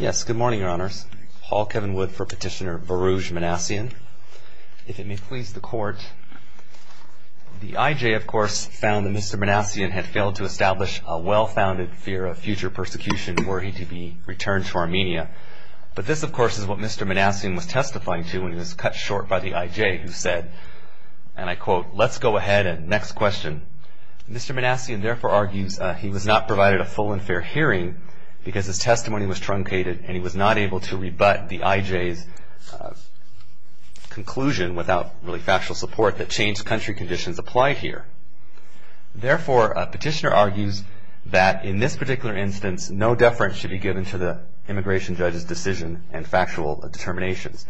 Yes, good morning, Your Honors. Paul Kevin Wood for Petitioner Varouj Manasian. If it may please the Court, the IJ, of course, found that Mr. Manasian had failed to establish a well-founded fear of future persecution for him to be returned to Armenia. But this, of course, is what Mr. Manasian was testifying to when he was cut short by the IJ, who said, and I quote, Let's go ahead and next question. Mr. Manasian therefore argues he was not provided a full and fair hearing because his testimony was truncated and he was not able to rebut the IJ's conclusion without really factual support that changed country conditions apply here. Therefore, Petitioner argues that in this particular instance, no deference should be given to the immigration judge's decision and factual determinations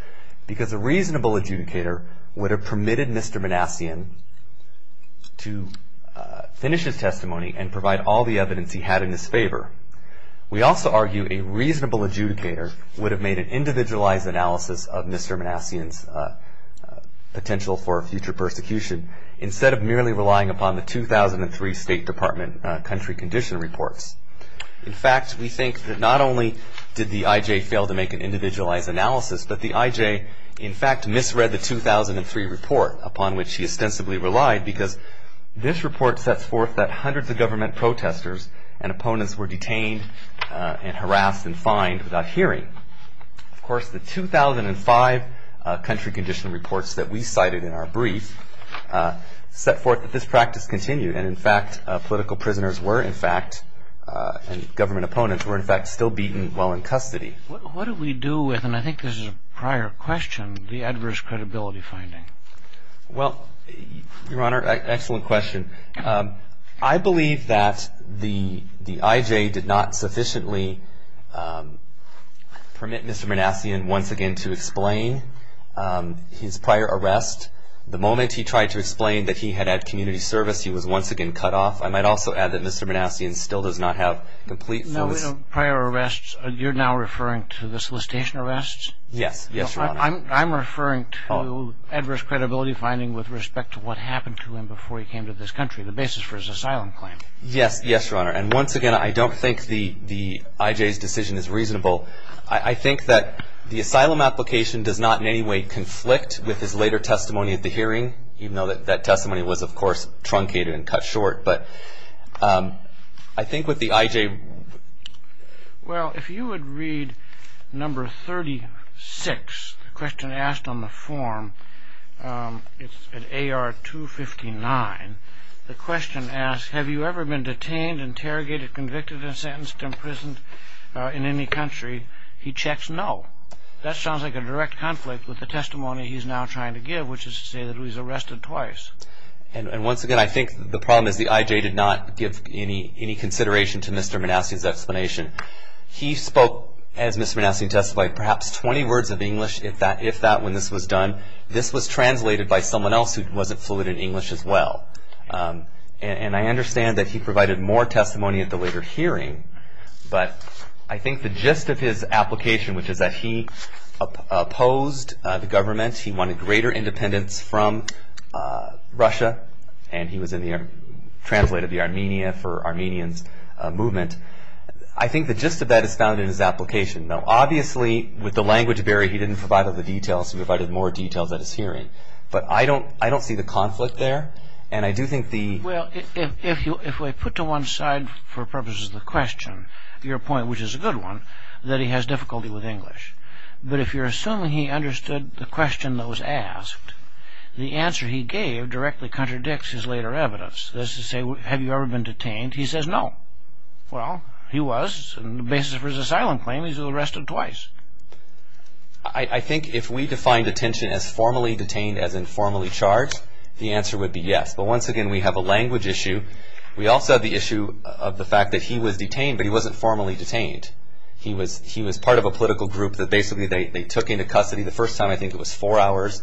because a reasonable adjudicator would have permitted Mr. Manasian to finish his testimony and provide all the evidence he had in his favor. We also argue a reasonable adjudicator would have made an individualized analysis of Mr. Manasian's potential for future persecution instead of merely relying upon the 2003 State Department country condition reports. In fact, we think that not only did the IJ fail to make an individualized analysis, but the IJ, in fact, misread the 2003 report upon which he ostensibly relied because this report sets forth that hundreds of government protesters and opponents were detained and harassed and fined without hearing. Of course, the 2005 country condition reports that we cited in our brief set forth that this practice continued and, in fact, political prisoners were, in fact, and government opponents were, in fact, still beaten while in custody. What do we do with, and I think this is a prior question, the adverse credibility finding? Well, Your Honor, excellent question. I believe that the IJ did not sufficiently permit Mr. Manasian once again to explain his prior arrest. The moment he tried to explain that he had had community service, he was once again cut off. I might also add that Mr. Manasian still does not have complete. No prior arrests. You're now referring to the solicitation arrests? Yes. Yes, Your Honor. I'm referring to adverse credibility finding with respect to what happened to him before he came to this country, the basis for his asylum claim. Yes. Yes, Your Honor. And once again, I don't think the IJ's decision is reasonable. I think that the asylum application does not in any way conflict with his later testimony at the hearing, even though that testimony was, of course, truncated and cut short. Well, if you would read number 36, the question asked on the form, it's at AR 259. The question asks, have you ever been detained, interrogated, convicted, and sentenced to imprisonment in any country? He checks no. That sounds like a direct conflict with the testimony he's now trying to give, which is to say that he was arrested twice. And once again, I think the problem is the IJ did not give any consideration to Mr. Manassi's explanation. He spoke, as Mr. Manassi testified, perhaps 20 words of English, if that, when this was done. This was translated by someone else who wasn't fluent in English as well. And I understand that he provided more testimony at the later hearing, but I think the gist of his application, which is that he opposed the government. He wanted greater independence from Russia, and he translated the Armenia for Armenians' movement. I think the gist of that is found in his application. Now, obviously, with the language barrier, he didn't provide all the details. He provided more details at his hearing. But I don't see the conflict there, and I do think the... Well, if I put to one side, for purposes of the question, your point, which is a good one, that he has difficulty with English. But if you're assuming he understood the question that was asked, the answer he gave directly contradicts his later evidence. That is to say, have you ever been detained? He says no. Well, he was, and the basis for his asylum claim is he was arrested twice. I think if we defined detention as formally detained, as in formally charged, the answer would be yes. But once again, we have a language issue. We also have the issue of the fact that he was detained, but he wasn't formally detained. He was part of a political group that basically they took into custody. The first time, I think it was four hours.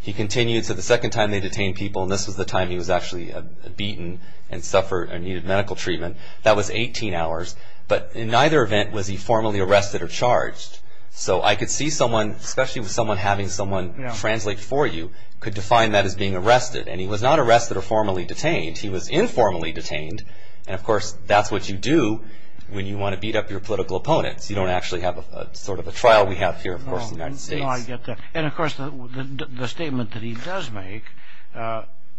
He continued to the second time they detained people, and this was the time he was actually beaten and suffered and needed medical treatment. That was 18 hours. But in neither event was he formally arrested or charged. So I could see someone, especially with someone having someone translate for you, could define that as being arrested. And he was not arrested or formally detained. He was informally detained. And, of course, that's what you do when you want to beat up your political opponents. You don't actually have sort of a trial we have here, of course, in the United States. No, I get that. And, of course, the statement that he does make,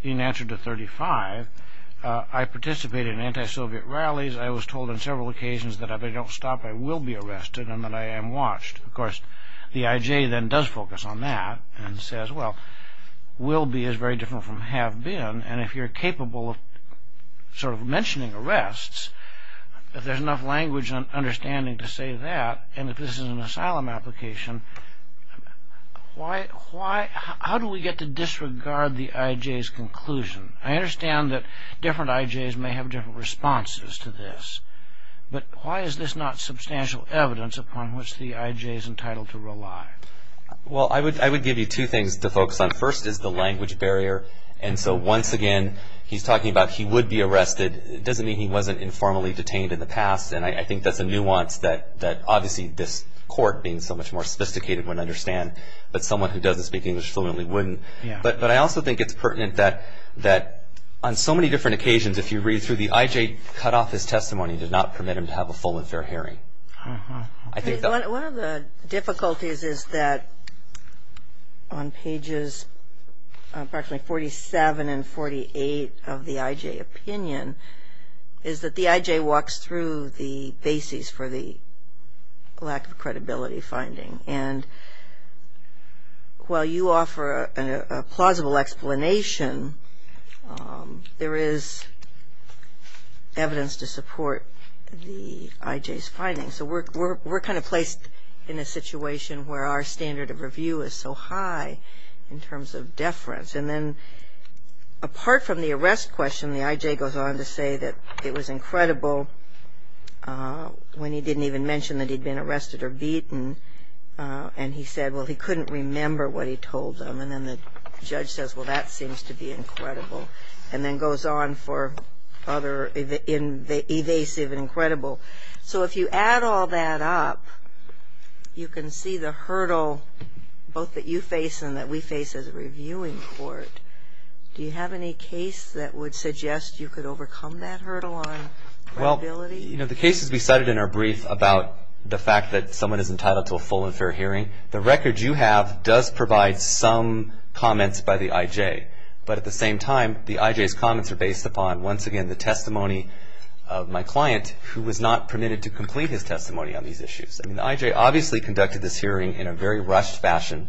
in answer to 35, I participated in anti-Soviet rallies. I was told on several occasions that if I don't stop, I will be arrested and that I am watched. Of course, the IJ then does focus on that and says, well, will be is very different from have been. And if you're capable of sort of mentioning arrests, if there's enough language and understanding to say that, and if this is an asylum application, how do we get to disregard the IJ's conclusion? I understand that different IJs may have different responses to this. But why is this not substantial evidence upon which the IJ is entitled to rely? Well, I would give you two things to focus on. The first is the language barrier. And so, once again, he's talking about he would be arrested. It doesn't mean he wasn't informally detained in the past. And I think that's a nuance that obviously this court, being so much more sophisticated, wouldn't understand. But someone who doesn't speak English fluently wouldn't. But I also think it's pertinent that on so many different occasions, if you read through the IJ, cut off his testimony did not permit him to have a full and fair hearing. One of the difficulties is that on pages approximately 47 and 48 of the IJ opinion, is that the IJ walks through the bases for the lack of credibility finding. And while you offer a plausible explanation, there is evidence to support the IJ's findings. So we're kind of placed in a situation where our standard of review is so high in terms of deference. And then, apart from the arrest question, the IJ goes on to say that it was incredible when he didn't even mention that he'd been arrested or beaten. And he said, well, he couldn't remember what he told them. And then the judge says, well, that seems to be incredible. And then goes on for other evasive and incredible. So if you add all that up, you can see the hurdle both that you face and that we face as a reviewing court. Do you have any case that would suggest you could overcome that hurdle on credibility? You know, the cases we cited in our brief about the fact that someone is entitled to a full and fair hearing, the record you have does provide some comments by the IJ. But at the same time, the IJ's comments are based upon, once again, the testimony of my client, who was not permitted to complete his testimony on these issues. I mean, the IJ obviously conducted this hearing in a very rushed fashion,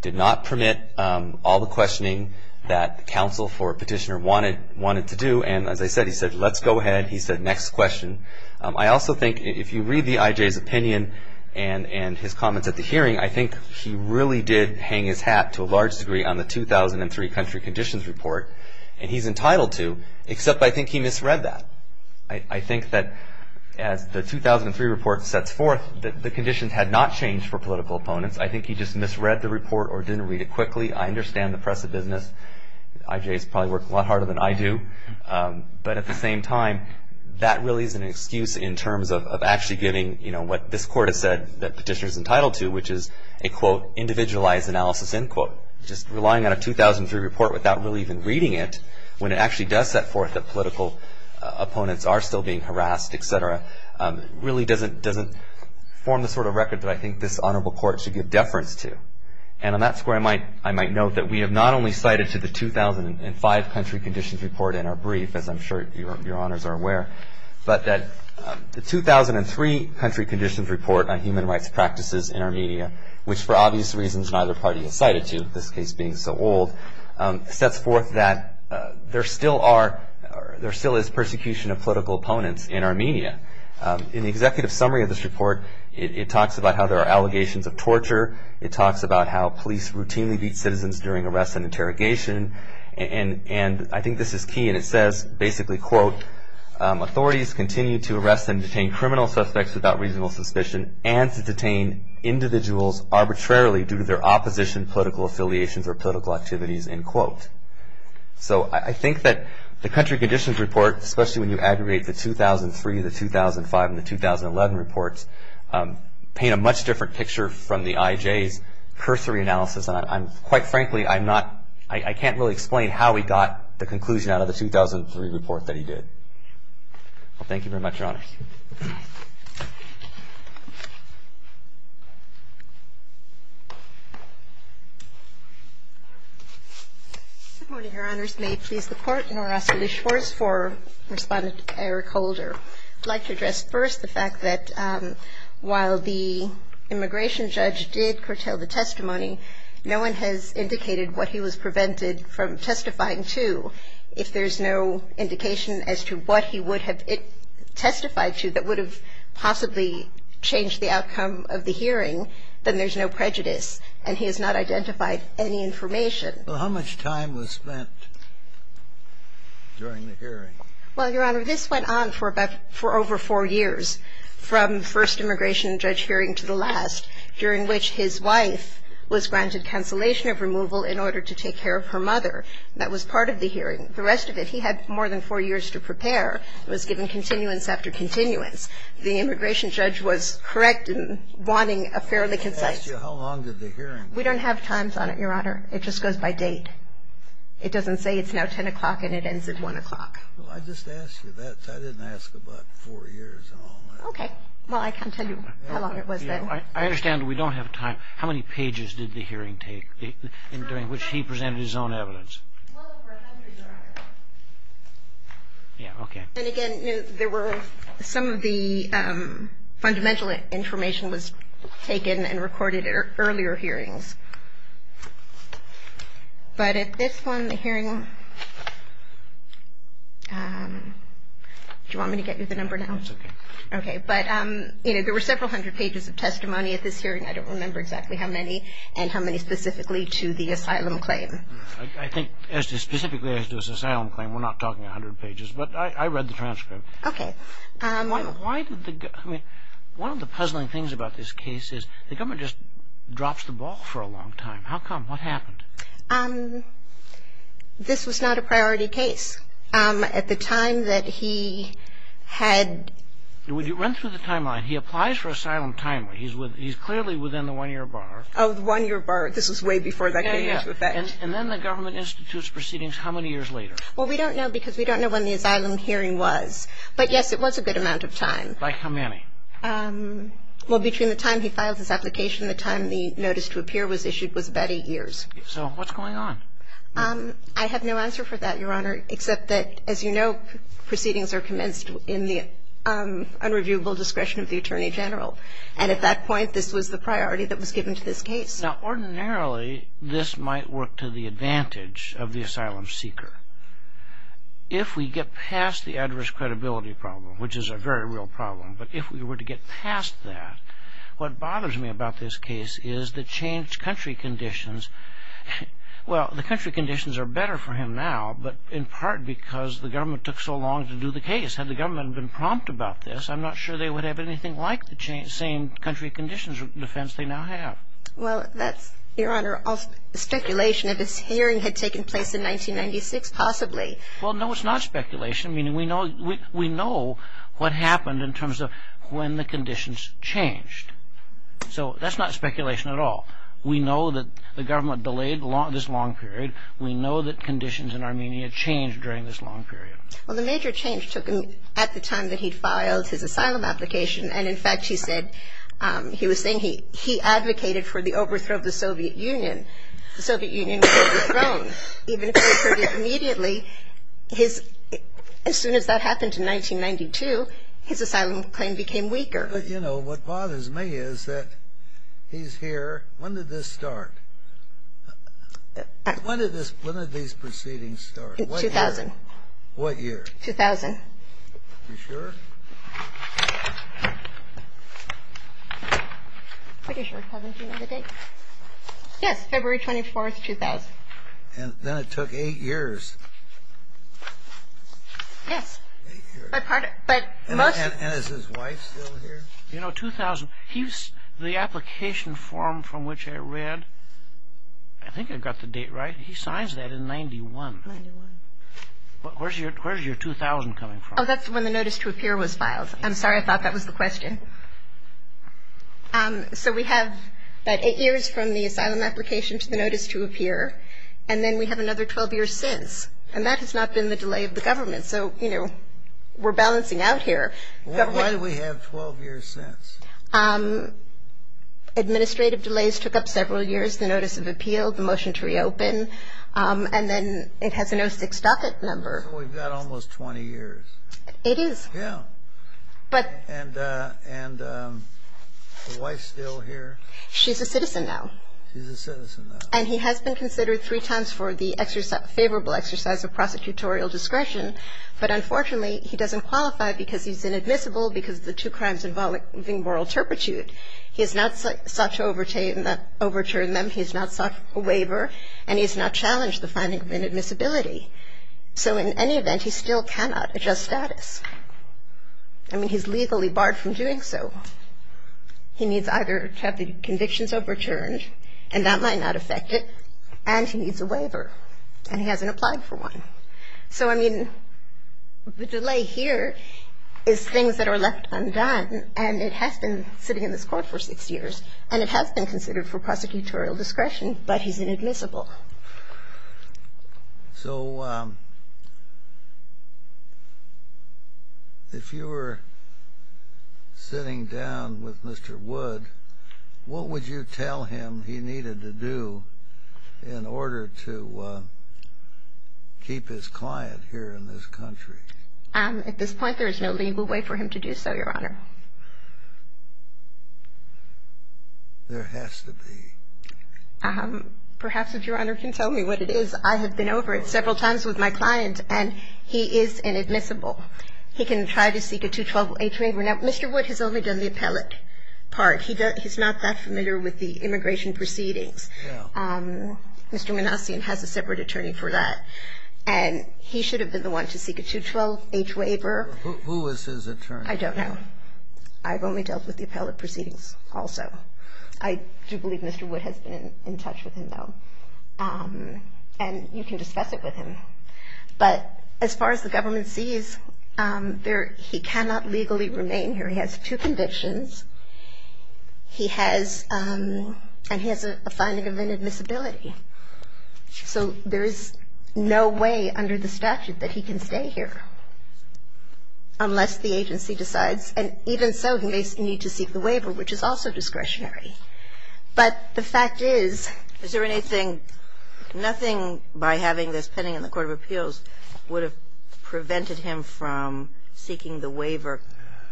did not permit all the questioning that counsel for petitioner wanted to do. And as I said, he said, let's go ahead. He said, next question. I also think if you read the IJ's opinion and his comments at the hearing, I think he really did hang his hat to a large degree on the 2003 country conditions report. And he's entitled to, except I think he misread that. I think that as the 2003 report sets forth, the conditions had not changed for political opponents. I think he just misread the report or didn't read it quickly. I understand the press of business. The IJ has probably worked a lot harder than I do. But at the same time, that really is an excuse in terms of actually getting, you know, what this court has said that petitioner is entitled to, which is a, quote, individualized analysis, end quote. Just relying on a 2003 report without really even reading it, when it actually does set forth that political opponents are still being harassed, et cetera, really doesn't form the sort of record that I think this honorable court should give deference to. And on that square, I might note that we have not only cited to the 2005 country conditions report in our brief, as I'm sure your honors are aware, but that the 2003 country conditions report on human rights practices in Armenia, which for obvious reasons neither party has cited to, this case being so old, sets forth that there still is persecution of political opponents in Armenia. In the executive summary of this report, it talks about how there are allegations of torture. It talks about how police routinely beat citizens during arrests and interrogation. And I think this is key, and it says basically, quote, authorities continue to arrest and detain criminal suspects without reasonable suspicion and to detain individuals arbitrarily due to their opposition, political affiliations, or political activities, end quote. So I think that the country conditions report, especially when you aggregate the 2003, the 2005, and the 2011 reports, paint a much different picture from the IJ's cursory analysis. And I'm quite frankly, I'm not ‑‑ I can't really explain how he got the conclusion out of the 2003 report that he did. Well, thank you very much, Your Honor. Good morning, Your Honors. May it please the Court, and I'll ask for the scores for Respondent Eric Holder. I'd like to address first the fact that while the immigration judge did curtail the testimony, no one has indicated what he was prevented from testifying to. If there's no indication as to what he would have testified to that would have possibly changed the outcome of the hearing, then there's no prejudice, and he has not identified any information. Well, how much time was spent during the hearing? Well, Your Honor, this went on for over four years, from first immigration judge hearing to the last, during which his wife was granted cancellation of removal in order to take care of her mother. That was part of the hearing. The rest of it, he had more than four years to prepare. It was given continuance after continuance. The immigration judge was correct in wanting a fairly concise ‑‑ How long did the hearing? We don't have times on it, Your Honor. It just goes by date. It doesn't say it's now 10 o'clock and it ends at 1 o'clock. Well, I just asked you that. I didn't ask about four years and all that. Okay. Well, I can't tell you how long it was then. I understand we don't have time. How many pages did the hearing take, during which he presented his own evidence? Well, over 100, Your Honor. Yeah, okay. And, again, there were some of the fundamental information was taken and recorded at earlier hearings. But at this one, the hearing, do you want me to get you the number now? No, it's okay. Okay. But, you know, there were several hundred pages of testimony at this hearing. I don't remember exactly how many and how many specifically to the asylum claim. I think specifically as to his asylum claim, we're not talking 100 pages. But I read the transcript. Okay. One of the puzzling things about this case is the government just drops the ball for a long time. How come? What happened? This was not a priority case. At the time that he had – Would you run through the timeline? He applies for asylum timely. He's clearly within the one-year bar. Oh, the one-year bar. This was way before that came into effect. Yeah, yeah. And then the government institutes proceedings how many years later? Well, we don't know because we don't know when the asylum hearing was. But, yes, it was a good amount of time. Like how many? Well, between the time he filed his application and the time the notice to appear was issued was about eight years. So what's going on? I have no answer for that, Your Honor, except that, as you know, proceedings are commenced in the unreviewable discretion of the Attorney General. And at that point, this was the priority that was given to this case. Now, ordinarily, this might work to the advantage of the asylum seeker. If we get past the adverse credibility problem, which is a very real problem, but if we were to get past that, what bothers me about this case is the changed country conditions. Well, the country conditions are better for him now, but in part because the government took so long to do the case. Had the government been prompt about this, I'm not sure they would have anything like the same country conditions of defense they now have. Well, that's, Your Honor, speculation. If this hearing had taken place in 1996, possibly. Well, no, it's not speculation, meaning we know what happened in terms of when the conditions changed. So that's not speculation at all. We know that the government delayed this long period. We know that conditions in Armenia changed during this long period. Well, the major change took him at the time that he filed his asylum application, and, in fact, he said he was saying he advocated for the overthrow of the Soviet Union. The Soviet Union was overthrown. Even if they approved it immediately, as soon as that happened in 1992, his asylum claim became weaker. But, you know, what bothers me is that he's here. When did this start? When did these proceedings start? In 2000. What year? 2000. Are you sure? I'm pretty sure. Haven't you known the date? Yes, February 24, 2000. And then it took eight years. Yes. And is his wife still here? You know, 2000, the application form from which I read, I think I got the date right, he signs that in 91. Where's your 2000 coming from? Oh, that's when the notice to appear was filed. I'm sorry, I thought that was the question. So we have about eight years from the asylum application to the notice to appear, and then we have another 12 years since, and that has not been the delay of the government. So, you know, we're balancing out here. Why do we have 12 years since? Administrative delays took up several years, the notice of appeal, the motion to reopen, and then it has an 06 docket number. So we've got almost 20 years. It is. Yeah. And the wife's still here? She's a citizen now. She's a citizen now. And he has been considered three times for the favorable exercise of prosecutorial discretion, but unfortunately he doesn't qualify because he's inadmissible because of the two crimes involving moral turpitude. He has not sought to overturn them, he has not sought a waiver, and he has not challenged the finding of inadmissibility. So in any event, he still cannot adjust status. I mean, he's legally barred from doing so. He needs either to have the convictions overturned, and that might not affect it, and he needs a waiver, and he hasn't applied for one. So, I mean, the delay here is things that are left undone, and it has been sitting in this Court for six years, and it has been considered for prosecutorial discretion, but he's inadmissible. So if you were sitting down with Mr. Wood, what would you tell him he needed to do in order to keep his client here in this country? At this point, there is no legal way for him to do so, Your Honor. There has to be. Perhaps if Your Honor can tell me what it is. I have been over it several times with my client, and he is inadmissible. He can try to seek a 212-H waiver. Now, Mr. Wood has only done the appellate part. He's not that familiar with the immigration proceedings. Mr. Manassian has a separate attorney for that, and he should have been the one to seek a 212-H waiver. Who is his attorney? I don't know. I've only dealt with the appellate proceedings also. I do believe Mr. Wood has been in touch with him, though, and you can discuss it with him. But as far as the government sees, he cannot legally remain here. He has two convictions, and he has a finding of inadmissibility. So there is no way under the statute that he can stay here unless the agency decides, and even so, he may need to seek the waiver, which is also discretionary. But the fact is ---- Is there anything, nothing by having this pending in the court of appeals would have prevented him from seeking the waiver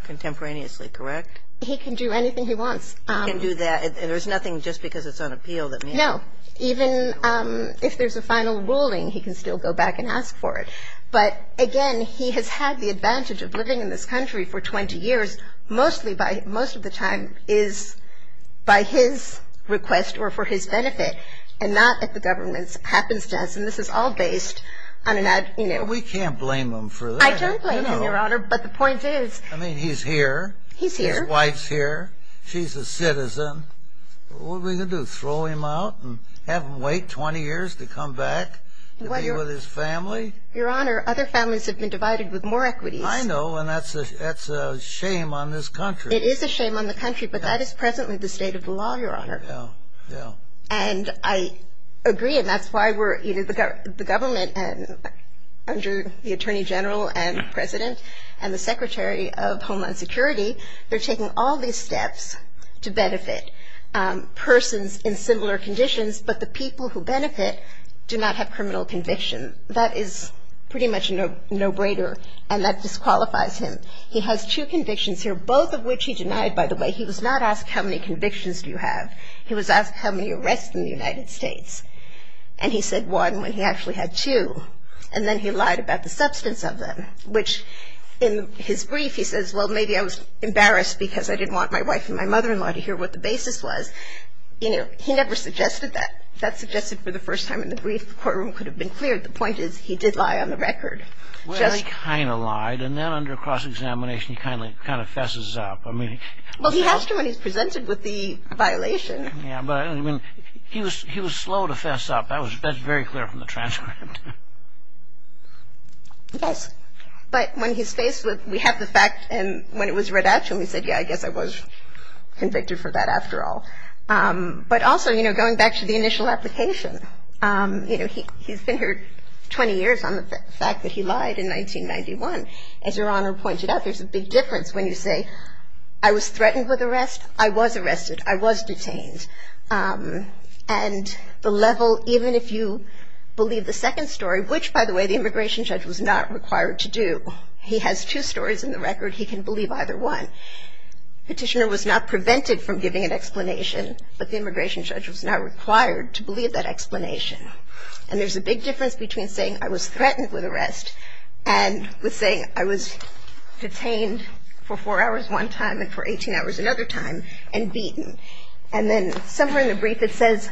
contemporaneously, correct? He can do anything he wants. He can do that, and there's nothing just because it's on appeal that means ---- No. Even if there's a final ruling, he can still go back and ask for it. But, again, he has had the advantage of living in this country for 20 years, most of the time by his request or for his benefit, and not if the government happens to ask. And this is all based on an ---- We can't blame him for that. I can't blame him, Your Honor, but the point is ---- I mean, he's here. He's here. His wife's here. She's a citizen. What are we going to do, throw him out and have him wait 20 years to come back to be with his family? Your Honor, other families have been divided with more equities. I know, and that's a shame on this country. It is a shame on the country, but that is presently the state of the law, Your Honor. Yeah, yeah. And I agree, and that's why we're ---- The government, under the Attorney General and President and the Secretary of Homeland Security, they're taking all these steps to benefit persons in similar conditions, but the people who benefit do not have criminal conviction. That is pretty much a no-brainer, and that disqualifies him. He has two convictions here, both of which he denied, by the way. He was not asked how many convictions do you have. He was asked how many arrests in the United States, and he said one when he actually had two, and then he lied about the substance of them, which in his brief he says, well, maybe I was embarrassed because I didn't want my wife and my mother-in-law to hear what the basis was. You know, he never suggested that. If that's suggested for the first time in the brief, the courtroom could have been cleared. The point is he did lie on the record. Well, he kind of lied, and then under cross-examination he kind of fesses up. Well, he has to when he's presented with the violation. Yeah, but he was slow to fess up. That's very clear from the transcript. Yes, but when he's faced with we have the fact, and when it was read out to him, he said, yeah, I guess I was convicted for that after all. But also, you know, going back to the initial application, you know, he's been here 20 years on the fact that he lied in 1991. As Your Honor pointed out, there's a big difference when you say I was threatened with arrest, I was arrested, I was detained. And the level, even if you believe the second story, which, by the way, the immigration judge was not required to do. He has two stories in the record. He can believe either one. Petitioner was not prevented from giving an explanation, but the immigration judge was not required to believe that explanation. And there's a big difference between saying I was threatened with arrest and with saying I was detained for four hours one time and for 18 hours another time and beaten. And then somewhere in the brief it says,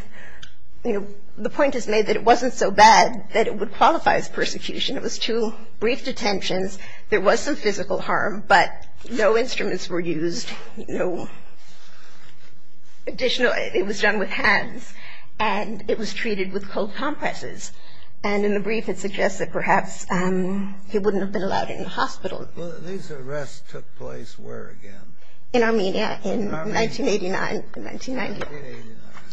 you know, the point is made that it wasn't so bad that it would qualify as persecution. It was two brief detentions. There was some physical harm, but no instruments were used, no additional. It was done with hands. And it was treated with cold compresses. And in the brief it suggests that perhaps he wouldn't have been allowed in the hospital. These arrests took place where again? In Armenia in 1989, 1990.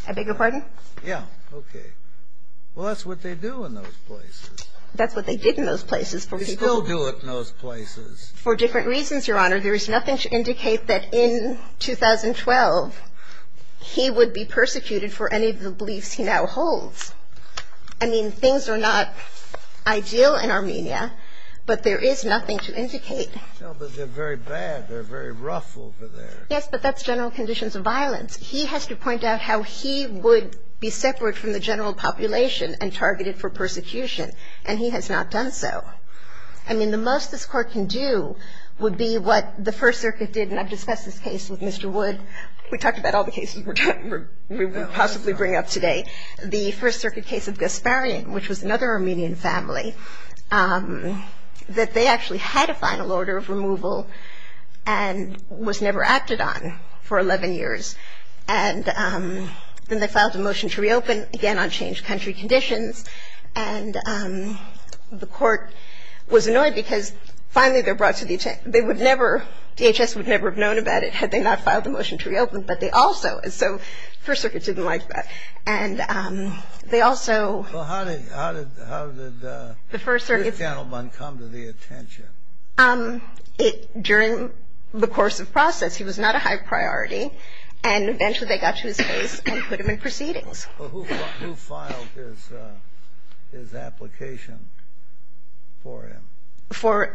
I beg your pardon? Yeah. Okay. Well, that's what they do in those places. That's what they did in those places for people. They still do it in those places. For different reasons, Your Honor. There is nothing to indicate that in 2012 he would be persecuted for any of the beliefs he now holds. I mean, things are not ideal in Armenia, but there is nothing to indicate. No, but they're very bad. They're very rough over there. Yes, but that's general conditions of violence. He has to point out how he would be separate from the general population and targeted for persecution, and he has not done so. I mean, the most this Court can do would be what the First Circuit did, and I've discussed this case with Mr. Wood. We talked about all the cases we would possibly bring up today. The First Circuit case of Gasparian, which was another Armenian family, that they actually had a final order of removal and was never acted on for 11 years. And then they filed a motion to reopen, again on changed country conditions, and the Court was annoyed because finally they're brought to the attention. They would never, DHS would never have known about it had they not filed the motion to reopen, but they also, and so First Circuit didn't like that. And they also. Well, how did this gentleman come to the attention? During the course of process, he was not a high priority, and eventually they got to his face and put him in proceedings. Well, who filed his application for him? For.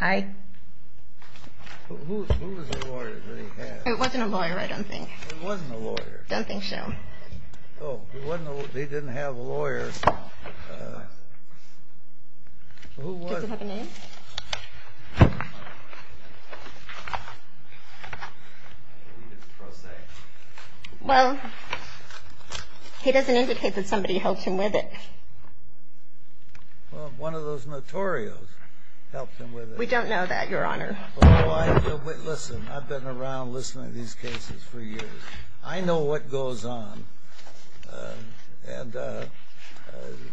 Hi. Who was the lawyer that he had? It wasn't a lawyer, I don't think. It wasn't a lawyer. I don't think so. Oh, he didn't have a lawyer. Who was it? Does it have a name? Well, he doesn't indicate that somebody helped him with it. Well, one of those notorious helped him with it. We don't know that, Your Honor. Listen, I've been around listening to these cases for years. I know what goes on. And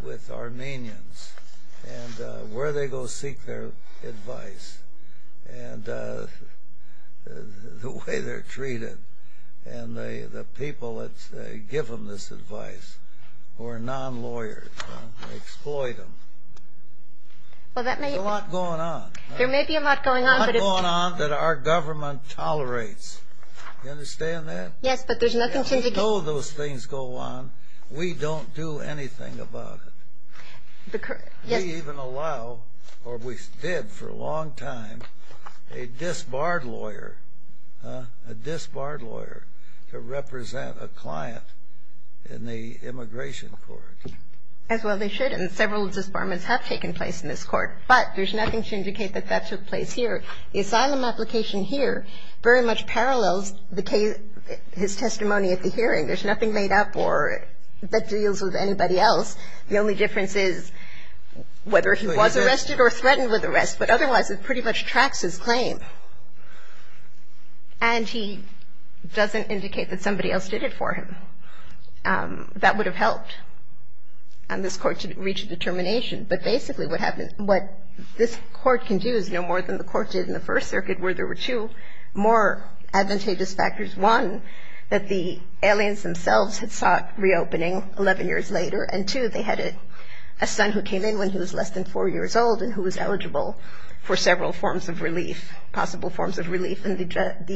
with Armenians and where they go seek their advice and the way they're treated and the people that give them this advice who are non-lawyers and exploit them. Well, that may be. There's a lot going on. There may be a lot going on. A lot going on that our government tolerates. You understand that? Yes, but there's nothing to indicate. We know those things go on. We don't do anything about it. We even allow, or we did for a long time, a disbarred lawyer, a disbarred lawyer, to represent a client in the immigration court. As well they should, and several disbarments have taken place in this court. But there's nothing to indicate that that took place here. The asylum application here very much parallels the case, his testimony at the hearing. There's nothing made up or that deals with anybody else. The only difference is whether he was arrested or threatened with arrest, but otherwise it pretty much tracks his claim. And he doesn't indicate that somebody else did it for him. That would have helped this court to reach a determination. But basically what this court can do is no more than the court did in the First Circuit where there were two more advantageous factors. One, that the aliens themselves had sought reopening 11 years later, and two, they had a son who came in when he was less than four years old and who was eligible for several forms of relief, possible forms of relief, and the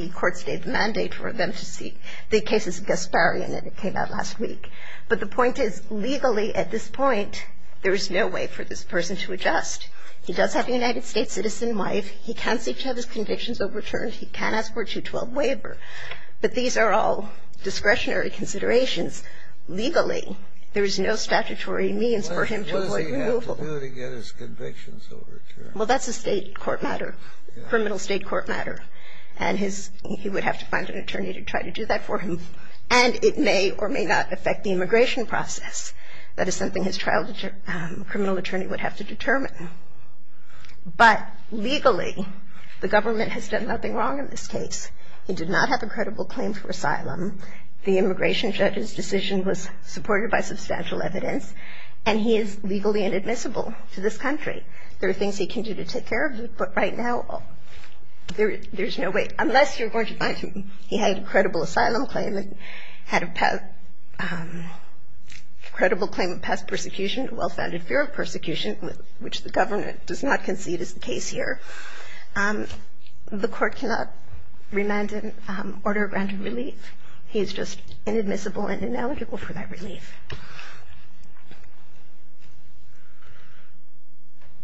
court stayed the mandate for them to seek. The case is Gasparian, and it came out last week. But the point is, legally at this point, there is no way for this person to adjust. He does have a United States citizen wife. He can seek to have his convictions overturned. He can ask for a 212 waiver. But these are all discretionary considerations. Legally, there is no statutory means for him to avoid removal. What does he have to do to get his convictions overturned? Well, that's a state court matter, criminal state court matter. And his – he would have to find an attorney to try to do that for him. And it may or may not affect the immigration process. That is something his trial criminal attorney would have to determine. But legally, the government has done nothing wrong in this case. He did not have a credible claim for asylum. The immigration judge's decision was supported by substantial evidence, and he is legally inadmissible to this country. There are things he can do to take care of it, but right now, there's no way, unless you're going to find him – he had a credible asylum claim and had a credible claim of past persecution, a well-founded fear of persecution, which the government does not concede is the case here. The court cannot remand him order of granted relief. He is just inadmissible and ineligible for that relief.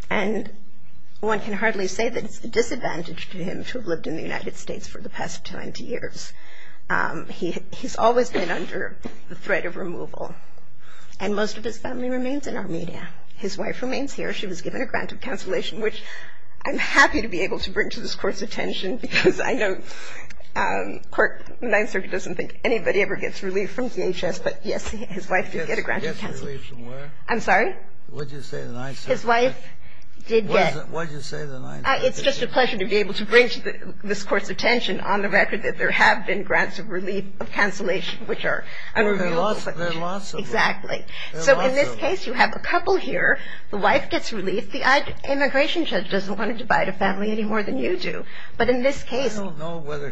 And one can hardly say that it's a disadvantage to him to have lived in the United States for the past 20 years. He's always been under the threat of removal. And most of his family remains in Armenia. His wife remains here. She was given a grant of cancellation, which I'm happy to be able to bring to this Court's attention because I know the Ninth Circuit doesn't think anybody ever gets relief from DHS. But, yes, his wife did get a grant of cancellation. I'm sorry? His wife did get – It's just a pleasure to be able to bring to this Court's attention, on the record, that there have been grants of relief of cancellation, which are – Exactly. So in this case, you have a couple here. The wife gets relief. The immigration judge doesn't want to divide a family any more than you do. But in this case – But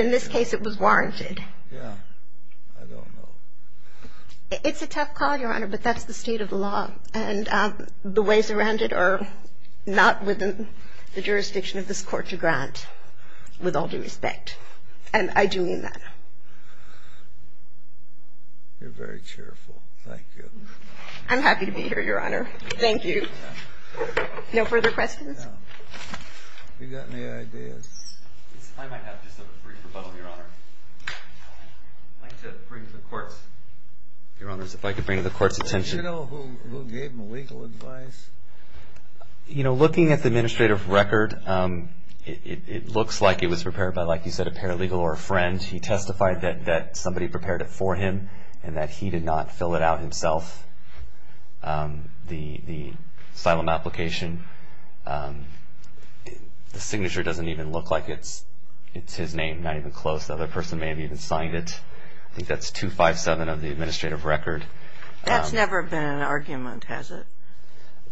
in this case, it was warranted. Yeah. I don't know. It's a tough call, Your Honor, but that's the state of the law, and the ways around it are not within the jurisdiction of this Court to grant, with all due respect. And I do mean that. You're very cheerful. Thank you. I'm happy to be here, Your Honor. Thank you. No further questions? No. You got any ideas? I might have just a brief rebuttal, Your Honor. I'd like to bring to the Court's – Your Honors, if I could bring to the Court's attention – Did you know who gave him legal advice? You know, looking at the administrative record, it looks like it was prepared by, like you said, a paralegal or a friend. He testified that somebody prepared it for him and that he did not fill it out himself, the asylum application. The signature doesn't even look like it's his name, not even close. The other person may have even signed it. I think that's 257 of the administrative record. That's never been an argument, has it?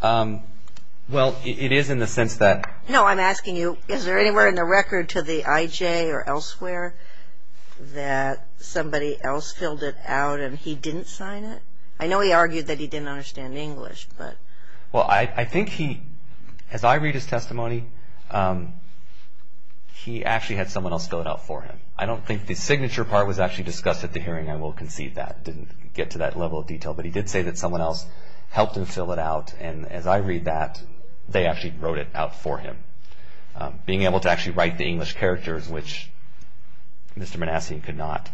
Well, it is in the sense that – No, I'm asking you, is there anywhere in the record to the IJ or elsewhere that somebody else filled it out and he didn't sign it? I know he argued that he didn't understand English, but – Well, I think he – as I read his testimony, he actually had someone else fill it out for him. I don't think the signature part was actually discussed at the hearing. I will concede that. It didn't get to that level of detail, but he did say that someone else helped him fill it out, and as I read that, they actually wrote it out for him, being able to actually write the English characters, which Mr. Manassian could not.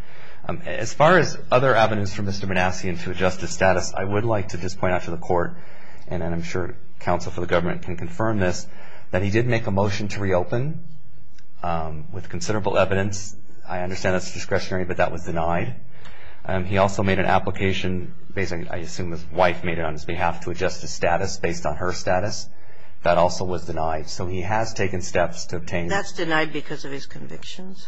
As far as other evidence from Mr. Manassian to adjust his status, I would like to just point out to the Court, and I'm sure counsel for the government can confirm this, that he did make a motion to reopen with considerable evidence. I understand that's discretionary, but that was denied. He also made an application, I assume his wife made it on his behalf to adjust his status based on her status. That also was denied. So he has taken steps to obtain – That's denied because of his convictions?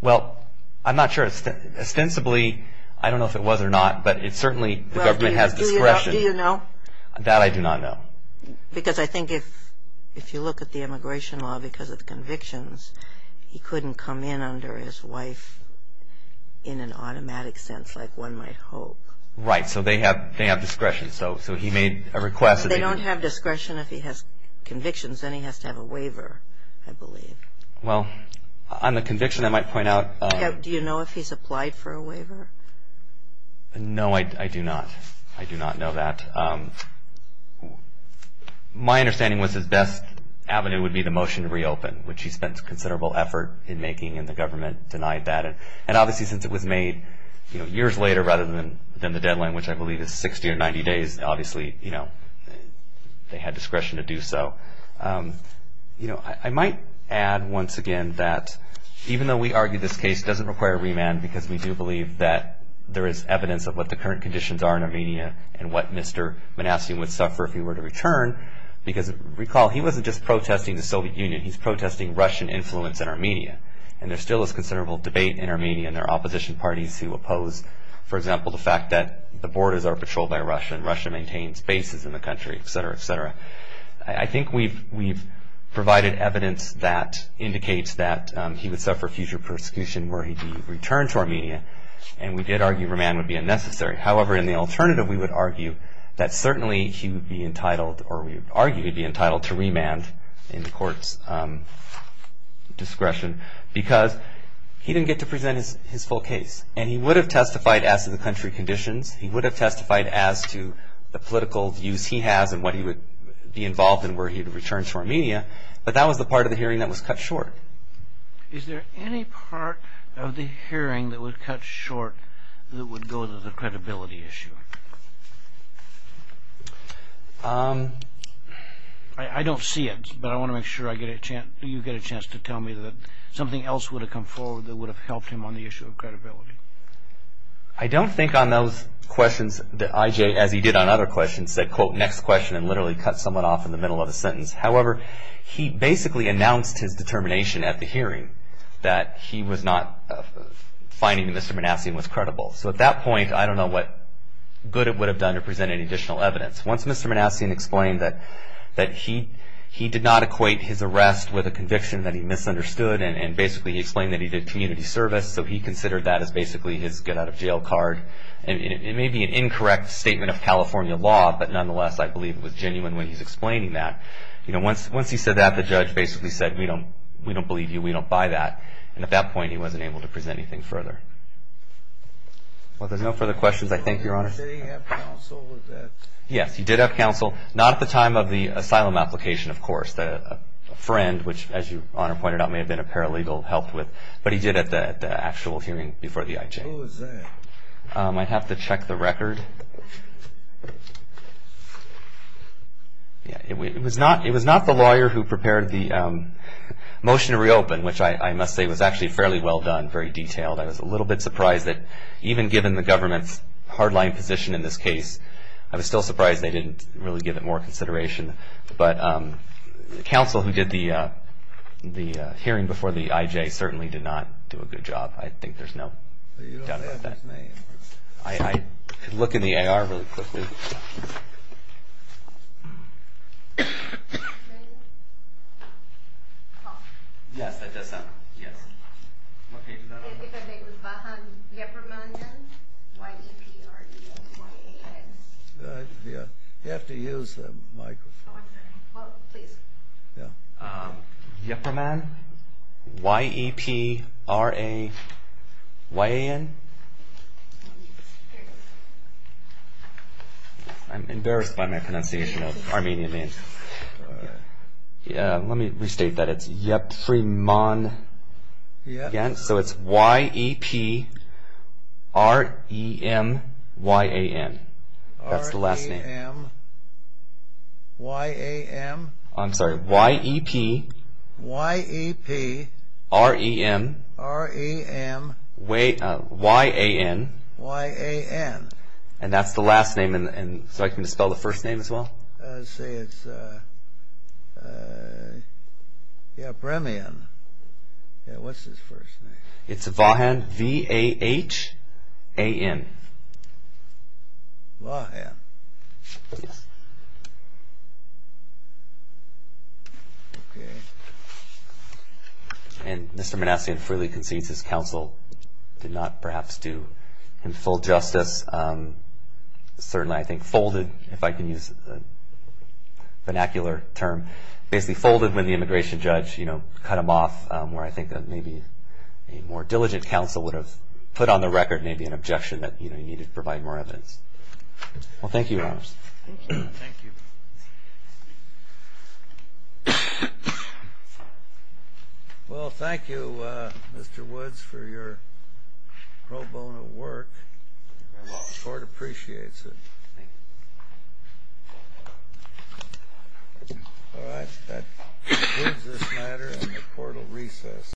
Well, I'm not sure. Ostensibly, I don't know if it was or not, but certainly the government has discretion. Do you know? That I do not know. Because I think if you look at the immigration law, because of convictions, he couldn't come in under his wife in an automatic sense like one might hope. Right, so they have discretion. So he made a request – So they don't have discretion if he has convictions, then he has to have a waiver, I believe. Do you know if he's applied for a waiver? No, I do not. I do not know that. My understanding was his best avenue would be the motion to reopen, which he spent considerable effort in making, and the government denied that. And obviously since it was made years later rather than the deadline, which I believe is 60 or 90 days, obviously they had discretion to do so. I might add once again that even though we argue this case doesn't require remand, because we do believe that there is evidence of what the current conditions are in Armenia and what Mr. Manassian would suffer if he were to return, because recall he wasn't just protesting the Soviet Union, he's protesting Russian influence in Armenia. And there still is considerable debate in Armenia, and there are opposition parties who oppose, for example, the fact that the borders are patrolled by Russia, and Russia maintains bases in the country, et cetera, et cetera. I think we've provided evidence that indicates that he would suffer future persecution were he to return to Armenia, and we did argue remand would be unnecessary. However, in the alternative we would argue that certainly he would be entitled or we would argue he'd be entitled to remand in the court's discretion, because he didn't get to present his full case, and he would have testified as to the country conditions, he would have testified as to the political views he has and what he would be involved in were he to return to Armenia, but that was the part of the hearing that was cut short. Is there any part of the hearing that was cut short that would go to the credibility issue? I don't see it, but I want to make sure you get a chance to tell me that something else would have come forward that would have helped him on the issue of credibility. I don't think on those questions that I.J., as he did on other questions, said, quote, next question, and literally cut someone off in the middle of the sentence. However, he basically announced his determination at the hearing that he was not finding Mr. Manassian was credible. So at that point, I don't know what good it would have done to present any additional evidence. Once Mr. Manassian explained that he did not equate his arrest with a conviction that he misunderstood, and basically he explained that he did community service, so he considered that as basically his get out of jail card. It may be an incorrect statement of California law, but nonetheless, I believe it was genuine when he's explaining that. Once he said that, the judge basically said, we don't believe you, we don't buy that. And at that point, he wasn't able to present anything further. Well, there's no further questions, I think, Your Honor. Did he have counsel with that? Yes, he did have counsel. Not at the time of the asylum application, of course. A friend, which as Your Honor pointed out, may have been a paralegal, helped with. But he did at the actual hearing before the I.J. Who was that? I'd have to check the record. It was not the lawyer who prepared the motion to reopen, which I must say was actually fairly well done, very detailed. I was a little bit surprised that even given the government's hardline position in this case, I was still surprised they didn't really give it more consideration. But the counsel who did the hearing before the I.J. certainly did not do a good job. I think there's no doubt about that. I could look in the AR really quickly. You have to use the microphone. Yeprman, Y-E-P-R-A-Y-A-N. I'm embarrassed by my pronunciation of Armenian names. Let me restate that. It's Yeprman, again. So it's Y-E-P-R-E-M-Y-A-N. That's the last name. I'm sorry, Y-E-P-R-E-M-Y-A-N. And that's the last name. So I can dispel the first name as well? Yeah, Bremian. What's his first name? It's Vahan, V-A-H-A-N. Vahan. And Mr. Manassian freely concedes his counsel did not perhaps do him full justice. Certainly I think folded, if I can use a vernacular term, basically folded when the immigration judge cut him off, where I think maybe a more diligent counsel would have put on the record maybe an objection that you need to provide more evidence. Well, thank you, Your Honor. Thank you. Well, thank you, Mr. Woods, for your pro bono work. The court appreciates it. All right, that concludes this matter and the court will recess.